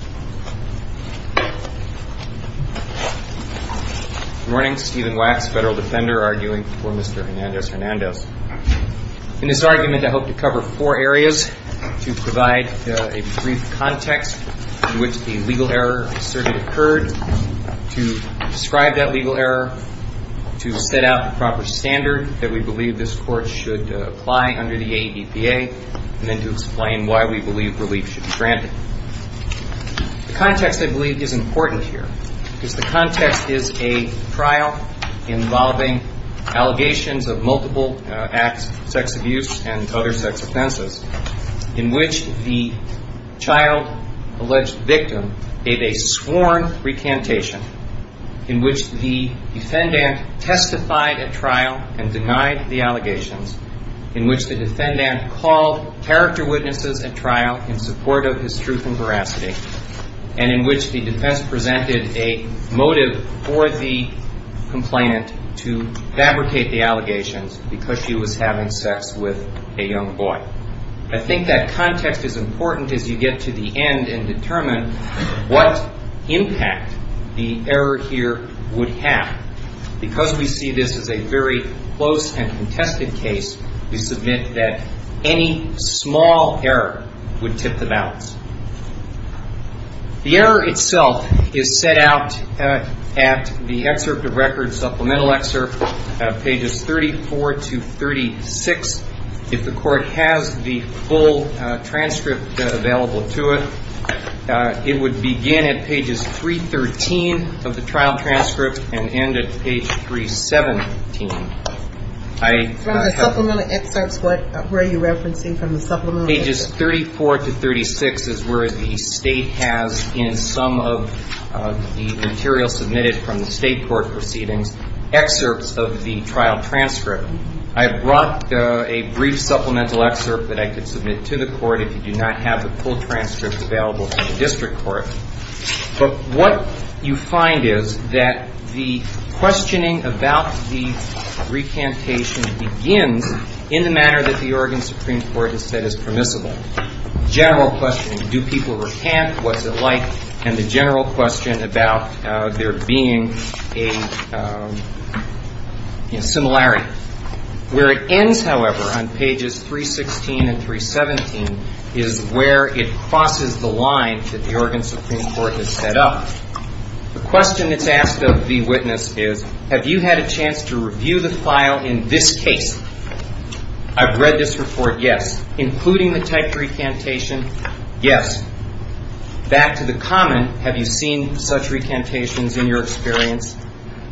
In this argument, I hope to cover four areas to provide a brief context in which the legal error asserted occurred, to describe that legal error, to set out the proper standard that we believe this Court should apply under the ADPA, and then to explain why we believe relief should be granted. The context, I believe, is important here, because the context is a trial involving allegations of multiple acts of sex abuse and other sex offenses, in which the child-alleged victim gave a sworn recantation, in which the defendant testified at trial and denied the allegations, in which the defendant called character witnesses at trial in support of his truth and veracity, and in which the defense presented a motive for the complainant to fabricate the allegations because she was having sex with a young boy. I think that context is important as you get to the end and determine what impact the error here would have. Because we see this as a very close and contested case, we submit that any small error would tip the balance. The error itself is set out at the excerpt of record, supplemental excerpt, pages 34 to 36. If the Court has the full transcript available to it, it would begin at pages 313 of the trial transcript and end at page 317. I have to go back and look at that. From the supplemental excerpts, what were you referencing from the supplemental excerpts? Pages 34 to 36 is where the State has, in some of the material submitted from the State court proceedings, excerpts of the trial transcript. I have brought a brief supplemental excerpt that I could submit to the Court if you do not have the full transcript available to the district court. But what you find is that the questioning about the recantation begins in the manner that the Oregon Supreme Court has said is permissible. The general question, do people recant, what's it like, and the general question about there being a similarity. Where it ends, however, on pages 316 and 317 is where it crosses the line that the Oregon Supreme Court has set up. The question that's asked is, have you had a chance to review the file in this case? I've read this report, yes. Including the typed recantation, yes. Back to the comment, have you seen such recantations in your experience?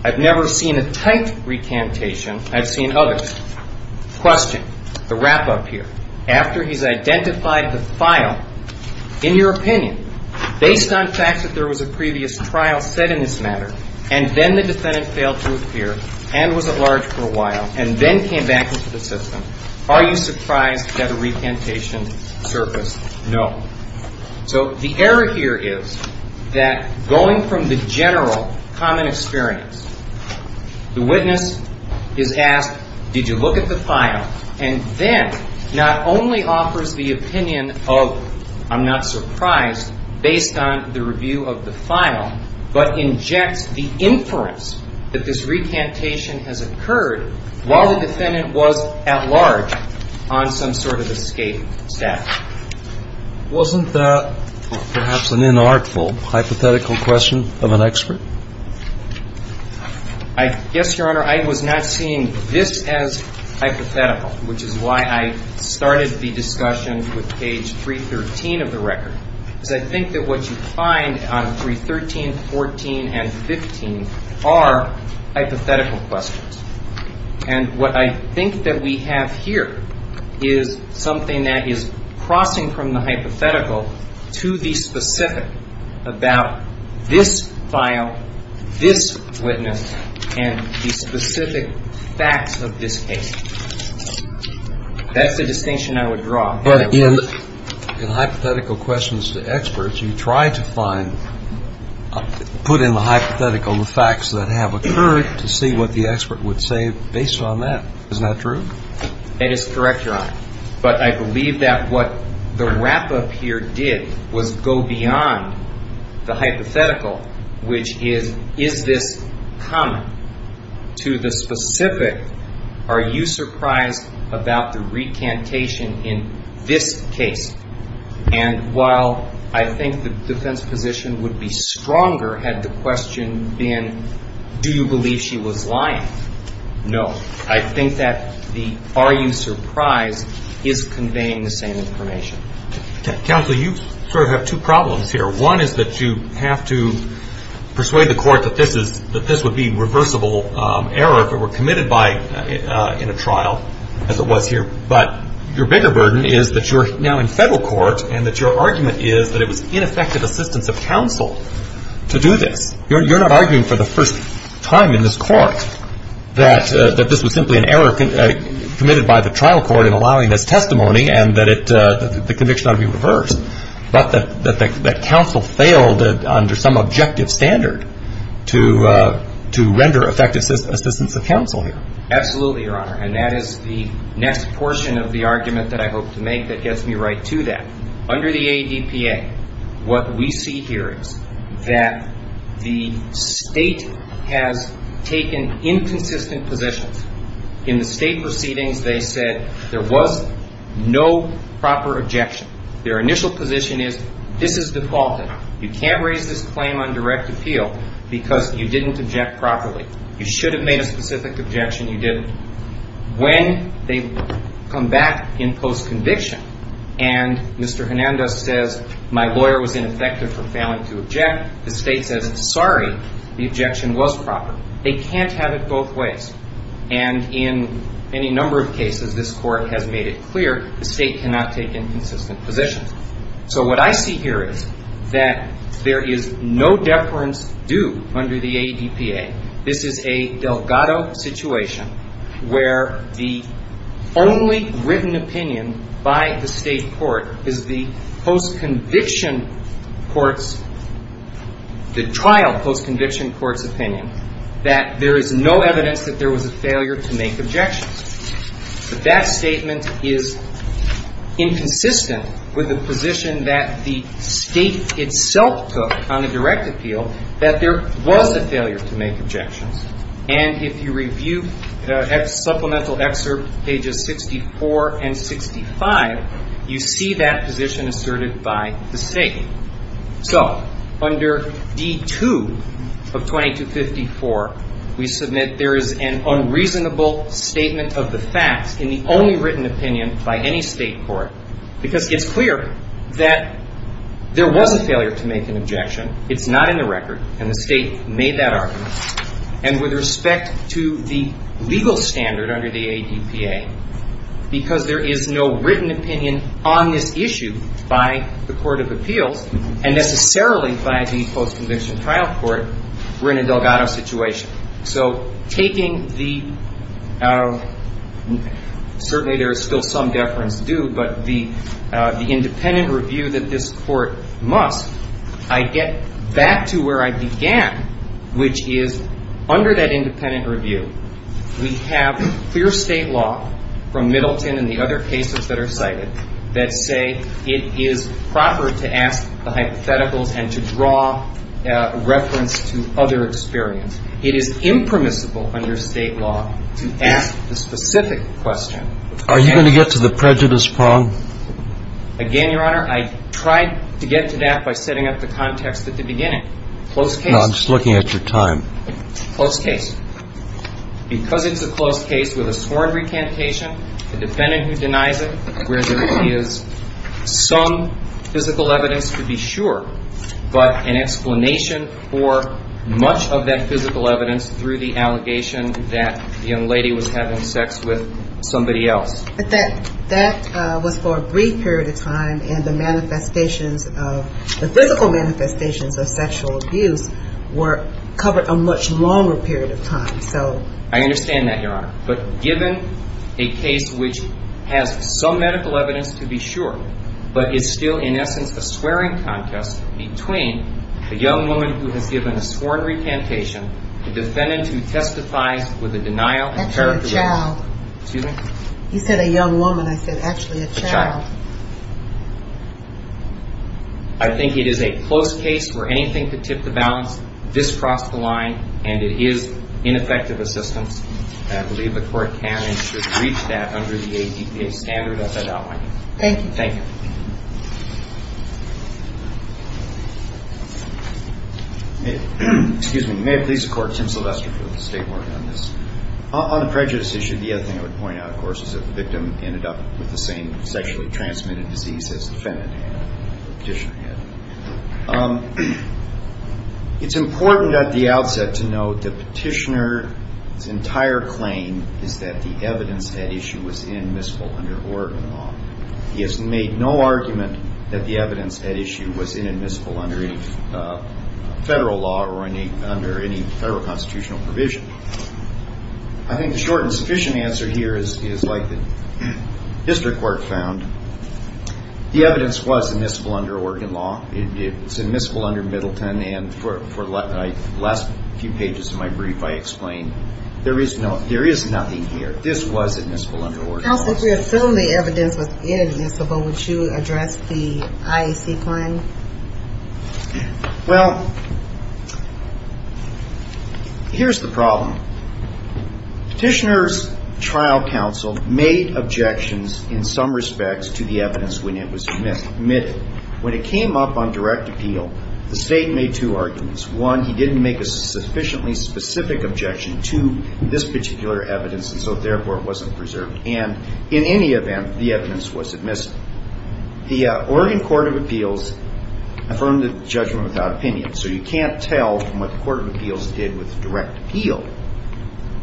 I've never seen a typed recantation. I've seen others. Question, the wrap-up here. After he's identified the file, in your opinion, based on facts that there was a previous trial set in this matter, and then the defendant failed to appear and was at large for a while, and then came back into the system, are you surprised that a recantation surfaced? No. So the error here is that going from the general common experience, the witness is asked, did you look at the file? And then not only offers the opinion of, I'm not surprised, based on the review of the file, but injects the inference that this recantation has occurred while the defendant was at large on some sort of escape statute. Wasn't that perhaps an inartful hypothetical question of an expert? I guess, Your Honor, I was not seeing this as hypothetical, which is why I started the discussion with page 313 of the record, because I think that what you find on 313, 314, and 315 are hypothetical questions. And what I think that we have here is something that is crossing from the hypothetical to the specific about this file, this witness, and the specific facts of this case. That's the distinction I would draw. But in hypothetical questions to experts, you try to find, put in the hypothetical the facts that have occurred to see what the expert would say based on that. Isn't that true? That is correct, Your Honor. But I believe that what the wrap-up here did was go beyond the hypothetical, which is, is this common to the specific? Are you surprised about the recantation in this case? And while I think the defense position would be stronger had the question been, do you believe she was not able to obtain the same information? Counsel, you sort of have two problems here. One is that you have to persuade the court that this is, that this would be reversible error if it were committed by, in a trial, as it was here. But your bigger burden is that you are now in federal court and that your argument is that it was ineffective assistance of counsel to do this. You're not arguing for the first time in this court that this was simply an error committed by the trial court in allowing this testimony and that it, the conviction ought to be reversed, but that counsel failed under some objective standard to render effective assistance of counsel here. Absolutely, Your Honor. And that is the next portion of the argument that I hope to make that gets me right to that. Under the ADPA, what we see here is that the State has taken inconsistent positions. In the State proceedings, they said there was no proper objection. Their initial position is, this is defaulted. You can't raise this claim on direct appeal because you didn't object properly. You should have made a specific objection, you didn't. When they come back in post-conviction and Mr. Hernandez says, my lawyer was ineffective for failing to object, the State says, sorry, the objection was proper. They can't have it both ways. And in any case, as I made it clear, the State cannot take inconsistent positions. So what I see here is that there is no deference due under the ADPA. This is a Delgado situation where the only written opinion by the State court is the post-conviction court's, the trial post-conviction court's opinion that there is no evidence that there was a failure to make objections. But that statement is inconsistent with the position that the State itself took on a direct appeal, that there was a failure to make objections. And if you review supplemental excerpt pages 64 and 65, you see that position asserted by the State. So under D2 of 2254, we submit there is an unreasonable statement of the facts in the only written opinion by any State court because it's clear that there was a failure to make an objection. It's not in the record and the State made that argument. And with respect to the legal standard under the ADPA, because there is no written opinion on this issue by the Court of Appeals, and necessarily by the post-conviction trial court, we're in a Delgado situation. So taking the, certainly there is still some deference due, but the independent review that this Court must, I get back to where I began, which is under that independent review, it is impermissible under State law, from Middleton and the other cases that are cited, that say it is proper to ask the hypotheticals and to draw reference to other experience. It is impermissible under State law to ask the specific question. Are you going to get to the prejudice prong? Again, Your Honor, I tried to get to that by setting up the context at the beginning. Close case. No, I'm just looking at your time. Close case. Because it's a close case with a sworn recantation, the defendant who denies it, where there is some physical evidence to be sure, but an explanation for much of that physical evidence through the allegation that the young lady was having sex with somebody else. But that was for a brief period of time, and the manifestations of, the physical evidence was for a much longer period of time, so. I understand that, Your Honor. But given a case which has some medical evidence to be sure, but is still, in essence, a swearing contest between a young woman who has given a sworn recantation, the defendant who testifies with a denial and characterization. Actually a child. Excuse me? You said a young woman. I said actually a child. I think it is a close case where anything to tip the balance, this crossed the line, and it is ineffective assistance, and I believe the court can and should reach that under the APPA standard as I outlined it. Thank you. Thank you. Excuse me. May it please the Court, Tim Sylvester for the State Board on this. On the prejudice issue, the other thing I would point out, of course, is that the victim ended up with the same sexually transmitted disease as the defendant had, the petitioner had. It is important at the outset to note the petitioner's entire claim is that the evidence at issue was inadmissible under Oregon law. He has made no argument that the evidence at issue was inadmissible under any federal law or under any federal constitutional provision. I think the short and sufficient answer here is like the district court found. The evidence was admissible under Oregon law. It is admissible under Middleton, and for the last few pages of my brief, I explained there is nothing here. This was admissible under Oregon law. Counsel, if the evidence was inadmissible, would you address the IAC claim? Well, here is the problem. Petitioner's trial counsel made objections in some respects to the evidence when it was admitted. When it came up on direct appeal, the State made two arguments. One, he didn't make a sufficiently specific objection to this particular evidence, and so, therefore, it wasn't preserved. And in any event, the evidence was admissible. The Oregon Court of Appeals affirmed the judgment without opinion, so you can't tell from what the Court of Appeals did with direct appeal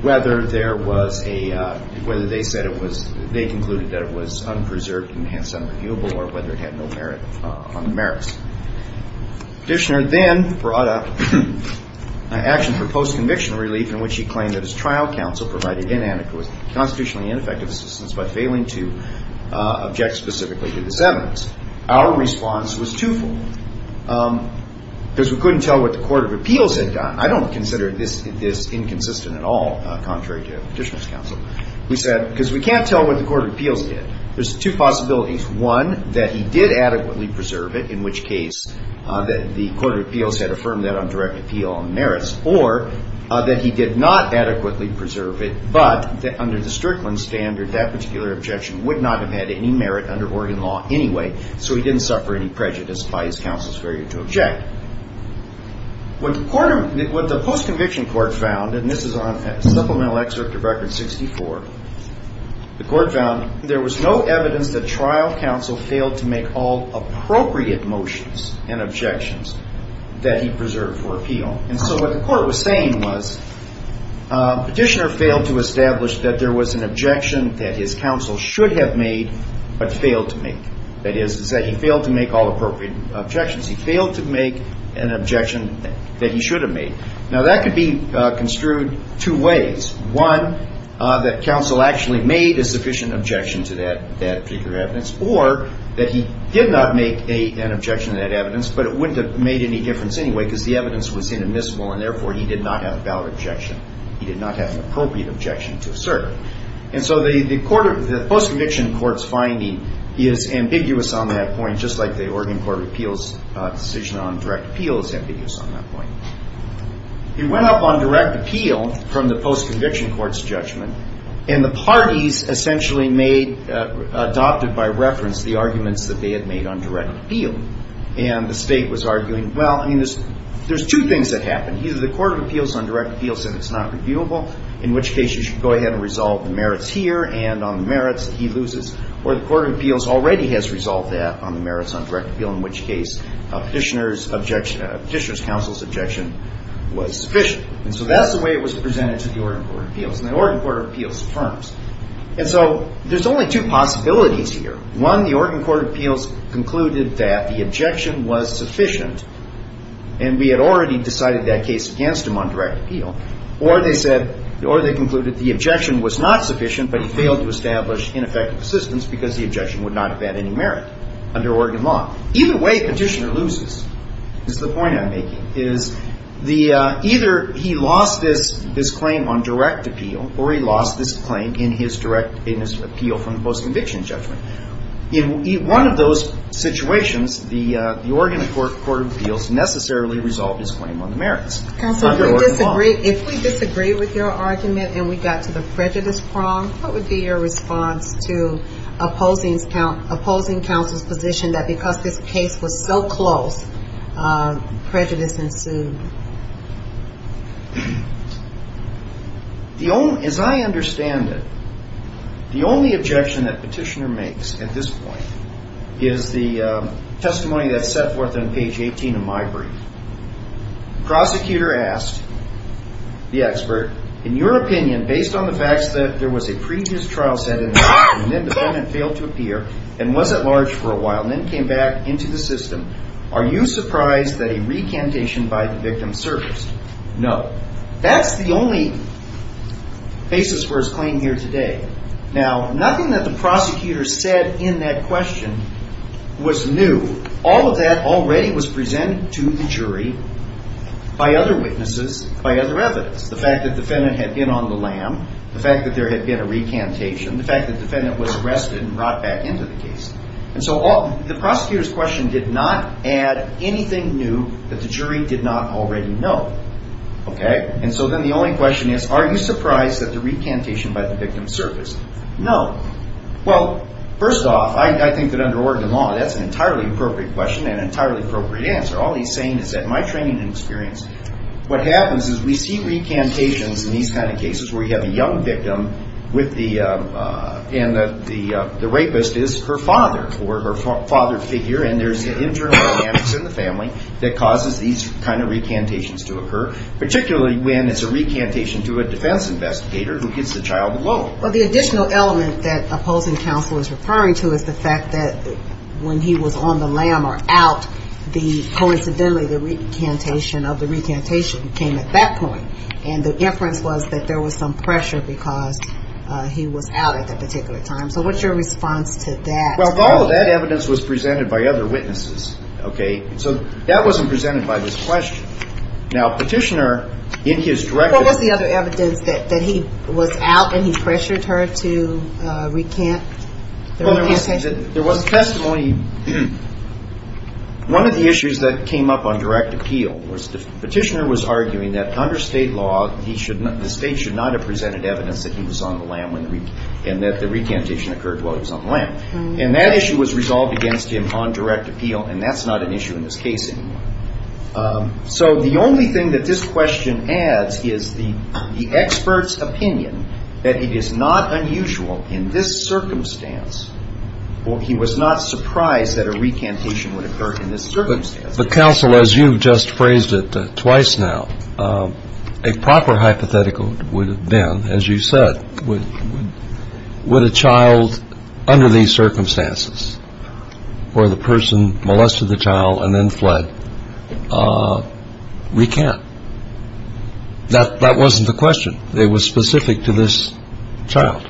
whether there was a, whether they said it was, they concluded that it was unpreserved and hence unreviewable or whether it had no merit on the merits. Petitioner then brought up an action for post-conviction relief in which he claimed that his trial counsel provided inadequate, constitutionally ineffective assistance by failing to object specifically to this evidence. Our response was twofold. Because we couldn't tell what the Court of Appeals had done. I don't consider this inconsistent at all, contrary to Petitioner's counsel. We said, because we can't tell what the Court of Appeals did. There's two possibilities. One, that he did adequately preserve it, in which case the Court of Appeals had affirmed that on direct appeal on merits, or that he did not adequately preserve it, but that under the Strickland standard, that particular objection would not have had any merit under Oregon law anyway, so he didn't suffer any prejudice by his counsel's failure to object. What the post-conviction court found, and this is on supplemental excerpt of Record 64, the court found there was no evidence that trial counsel failed to make all appropriate motions and objections that he preserved for appeal. And so what the court was saying was, Petitioner failed to establish that there was an objection that his counsel should have made, but failed to make. That is, is that he failed to make all appropriate objections. He failed to make an objection that he should have made. Now, that could be construed two ways. One, that counsel actually made a sufficient objection to that particular evidence, or that he did not make an objection to that evidence, but it wouldn't have made any difference anyway, because the evidence was inadmissible, and therefore he did not have a valid objection. He did not have an appropriate objection to assert. And so the post-conviction court's finding is ambiguous on that point, just like the Oregon Court of Appeals' decision on direct appeal is ambiguous on that point. It went up on direct appeal from the post-conviction court's judgment, and the parties essentially made, adopted by reference, the arguments that they had made on direct appeal. And the state was arguing, well, I mean, there's two things that happened. Either the court of appeals on direct appeal said it's not reviewable, in which case you should go ahead and resolve the merits here, and on the merits, he loses. Or the court of appeals already has resolved that on the merits on direct appeal, in which case Petitioner's counsel's objection was sufficient. And so that's the way it was presented to the Oregon Court of Appeals, and the Oregon Court of Appeals affirms. And so there's only two possibilities here. One, the Oregon Court of Appeals concluded that the objection was sufficient, and we had already decided that case against him on direct appeal. Or they concluded the objection was not sufficient, but he failed to establish ineffective assistance because the objection would not have had any merit under Oregon law. Either way, Petitioner loses, is the point I'm making, is either he lost this claim on direct appeal, or he lost this claim in his direct appeal from the post-conviction judgment. In one of those situations, the Oregon Court of Appeals necessarily resolved his claim on the merits under Oregon law. If we disagree with your argument and we got to the prejudice prong, what would be your response to opposing counsel's position that because this case was so close, prejudice ensued? As I understand it, the only objection that Petitioner makes at this point is the testimony that's set forth on page 18 of my brief. Prosecutor asked the expert, in your opinion, based on the facts that there was a prejudice trial set in the past, and an independent failed to appear, and was at large for a while, and then came back into the system, are you surprised that a recantation by the victim of the victim surfaced? No. That's the only basis for his claim here today. Now, nothing that the prosecutor said in that question was new. All of that already was presented to the jury by other witnesses, by other evidence. The fact that the defendant had been on the lam, the fact that there had been a recantation, the fact that the defendant was arrested and brought back into the case. And so the prosecutor's question did not add anything new that the jury did not already know. Okay? And so then the only question is, are you surprised that the recantation by the victim surfaced? No. Well, first off, I think that under Oregon law, that's an entirely appropriate question and an entirely appropriate answer. All he's saying is that in my training and experience, what happens is we see recantations in these kind of cases where you have a young victim with the, and the rapist is her father, or her father figure, and there's an internal dynamics in the family that causes these kind of recantations to occur. Particularly when it's a recantation to a defense investigator who gets the child alone. Well, the additional element that opposing counsel is referring to is the fact that when he was on the lam or out, coincidentally, the recantation of the recantation came at that point. And the inference was that there was some pressure because he was out at that particular time. So what's your response to that? Well, all of that evidence was presented by other witnesses. Okay? So that wasn't presented by this question. Now, Petitioner, in his direct... What was the other evidence that he was out and he pressured her to recant the recantation? There was testimony. One of the issues that came up on direct appeal was that Petitioner was arguing that under state law, the state should not have presented while he was on the lam. And that issue was resolved against him on direct appeal, and that's not an issue in this case anymore. So the only thing that this question adds is the expert's opinion that it is not unusual in this circumstance, or he was not surprised that a recantation would occur in this circumstance. But counsel, as you just phrased it twice now, a proper hypothetical would have been, as you said, would a child under these circumstances where the person molested the child and then fled, recant? That wasn't the question. It was specific to this child.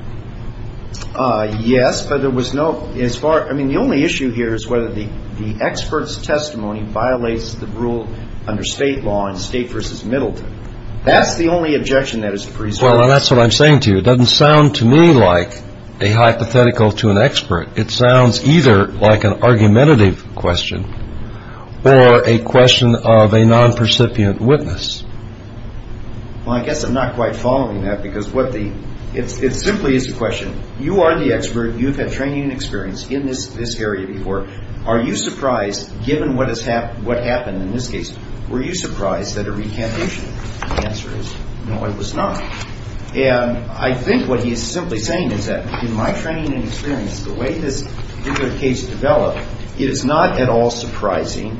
Yes, but there was no... I mean, the only issue here is whether the expert's testimony violates the rule under state law in State v. Middleton. That's the only objection that is resolved. Well, that's what I'm saying to you. It doesn't sound to me like a hypothetical to an expert. It sounds either like an argumentative question or a question of a non-percipient witness. Well, I guess I'm not quite following that because what the... It simply is a question. You are the expert. You've had training and experience in this area before. Are you surprised, given what happened in this case, were you The answer is no, I was not. I think what he is simply saying is that in my training and experience, the way this particular case developed, it is not at all surprising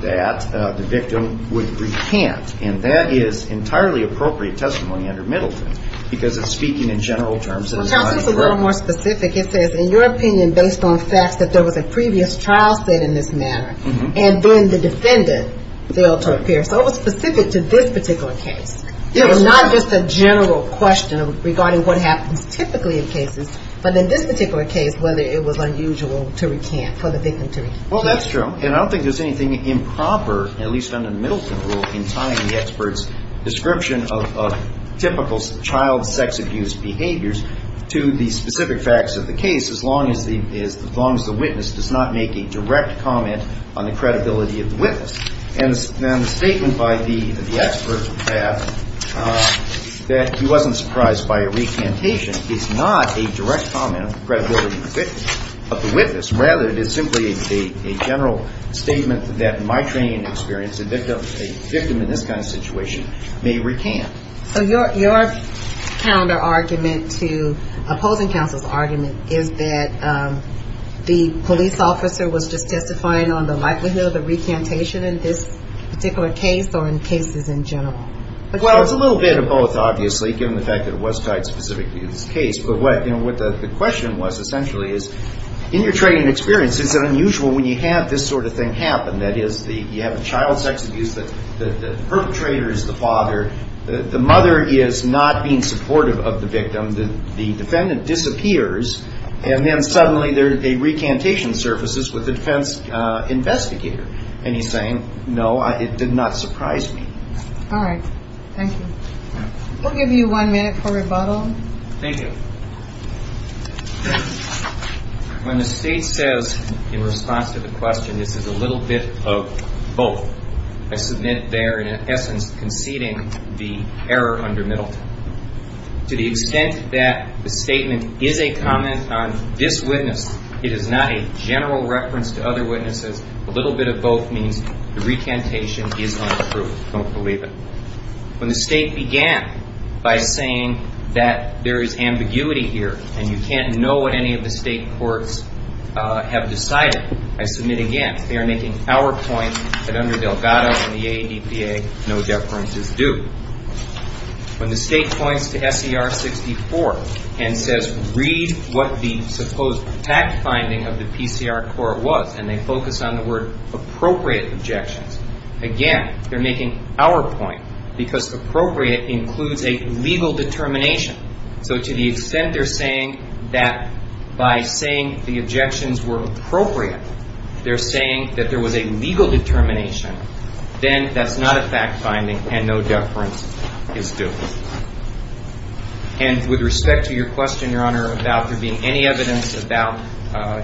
that the victim would recant. And that is entirely appropriate testimony under Middleton because it's speaking in general terms. Well, counsel, it's a little more specific. It says, in your opinion, based on facts that there was a previous trial set in this matter and then the defendant failed to appear. So it was specific to this particular case. It was not just a general question regarding what happens typically in cases. But in this particular case, whether it was unusual to recant, for the victim to recant. Well, that's true. And I don't think there's anything improper, at least under the Middleton rule, in tying the expert's description of typical child sex abuse behaviors to the specific facts of the case as long as the witness does not make a direct comment on the credibility of the witness. And the statement by the expert that he wasn't surprised by a recantation is not a direct comment on the credibility of the witness. Rather, it is simply a general statement that in my training and experience, a victim in this kind of situation may recant. So your counter-argument to opposing counsel's argument is that the police officer was just testifying on the likelihood of a recantation in this particular case or in cases in general? Well, it's a little bit of both, obviously, given the fact that it was tied specifically to this case. But what the question was, essentially, is in your training and experience, is it unusual when you have this sort of thing happen? That is, you have a child sex abuse that the perpetrator is the father. The mother is not being supportive of the victim. The defendant disappears. And then suddenly, a recantation surfaces with the defense investigator. And he's saying, no, it did not surprise me. All right. Thank you. We'll give you one minute for rebuttal. Thank you. When the State says in response to the question, this is a little bit of both, I submit they're, in essence, conceding the error under Middleton. To the extent that the statement is a comment on this witness, it is not a general reference to other witnesses. A little bit of both means the recantation is untrue. Don't believe it. When the State began by saying that there is ambiguity here and you can't know what any of the State courts have decided, I submit again, they are making our point that under Delgado and the ADPA, no deference is due. When the State points to SCR 64 and says, read what the supposed fact finding of the PCR court was, and they focus on the word appropriate objections, again, they're making our point because appropriate includes a legal determination. So to the extent they're saying that by saying the objections were appropriate, they're saying that there was a legal determination, then that's not a fact finding and no deference. No deference is due. And with respect to your question, Your Honor, about there being any evidence about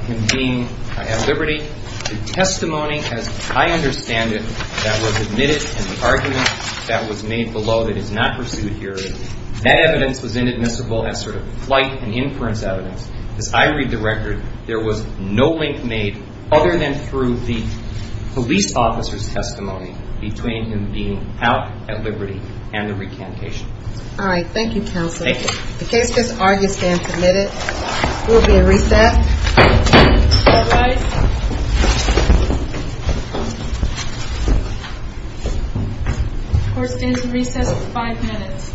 him being at liberty, the testimony as I understand it that was admitted and the argument that was made below that is not pursued here, that evidence was inadmissible as sort of flight and inference evidence. As I read the record, there was no link made other than through the police officer's testimony between him being out at liberty and the recantation. All right. Thank you, Counselor. Thank you. The case is argued and submitted. We'll be in recess. All rise. Court is in recess for five minutes. Thank you.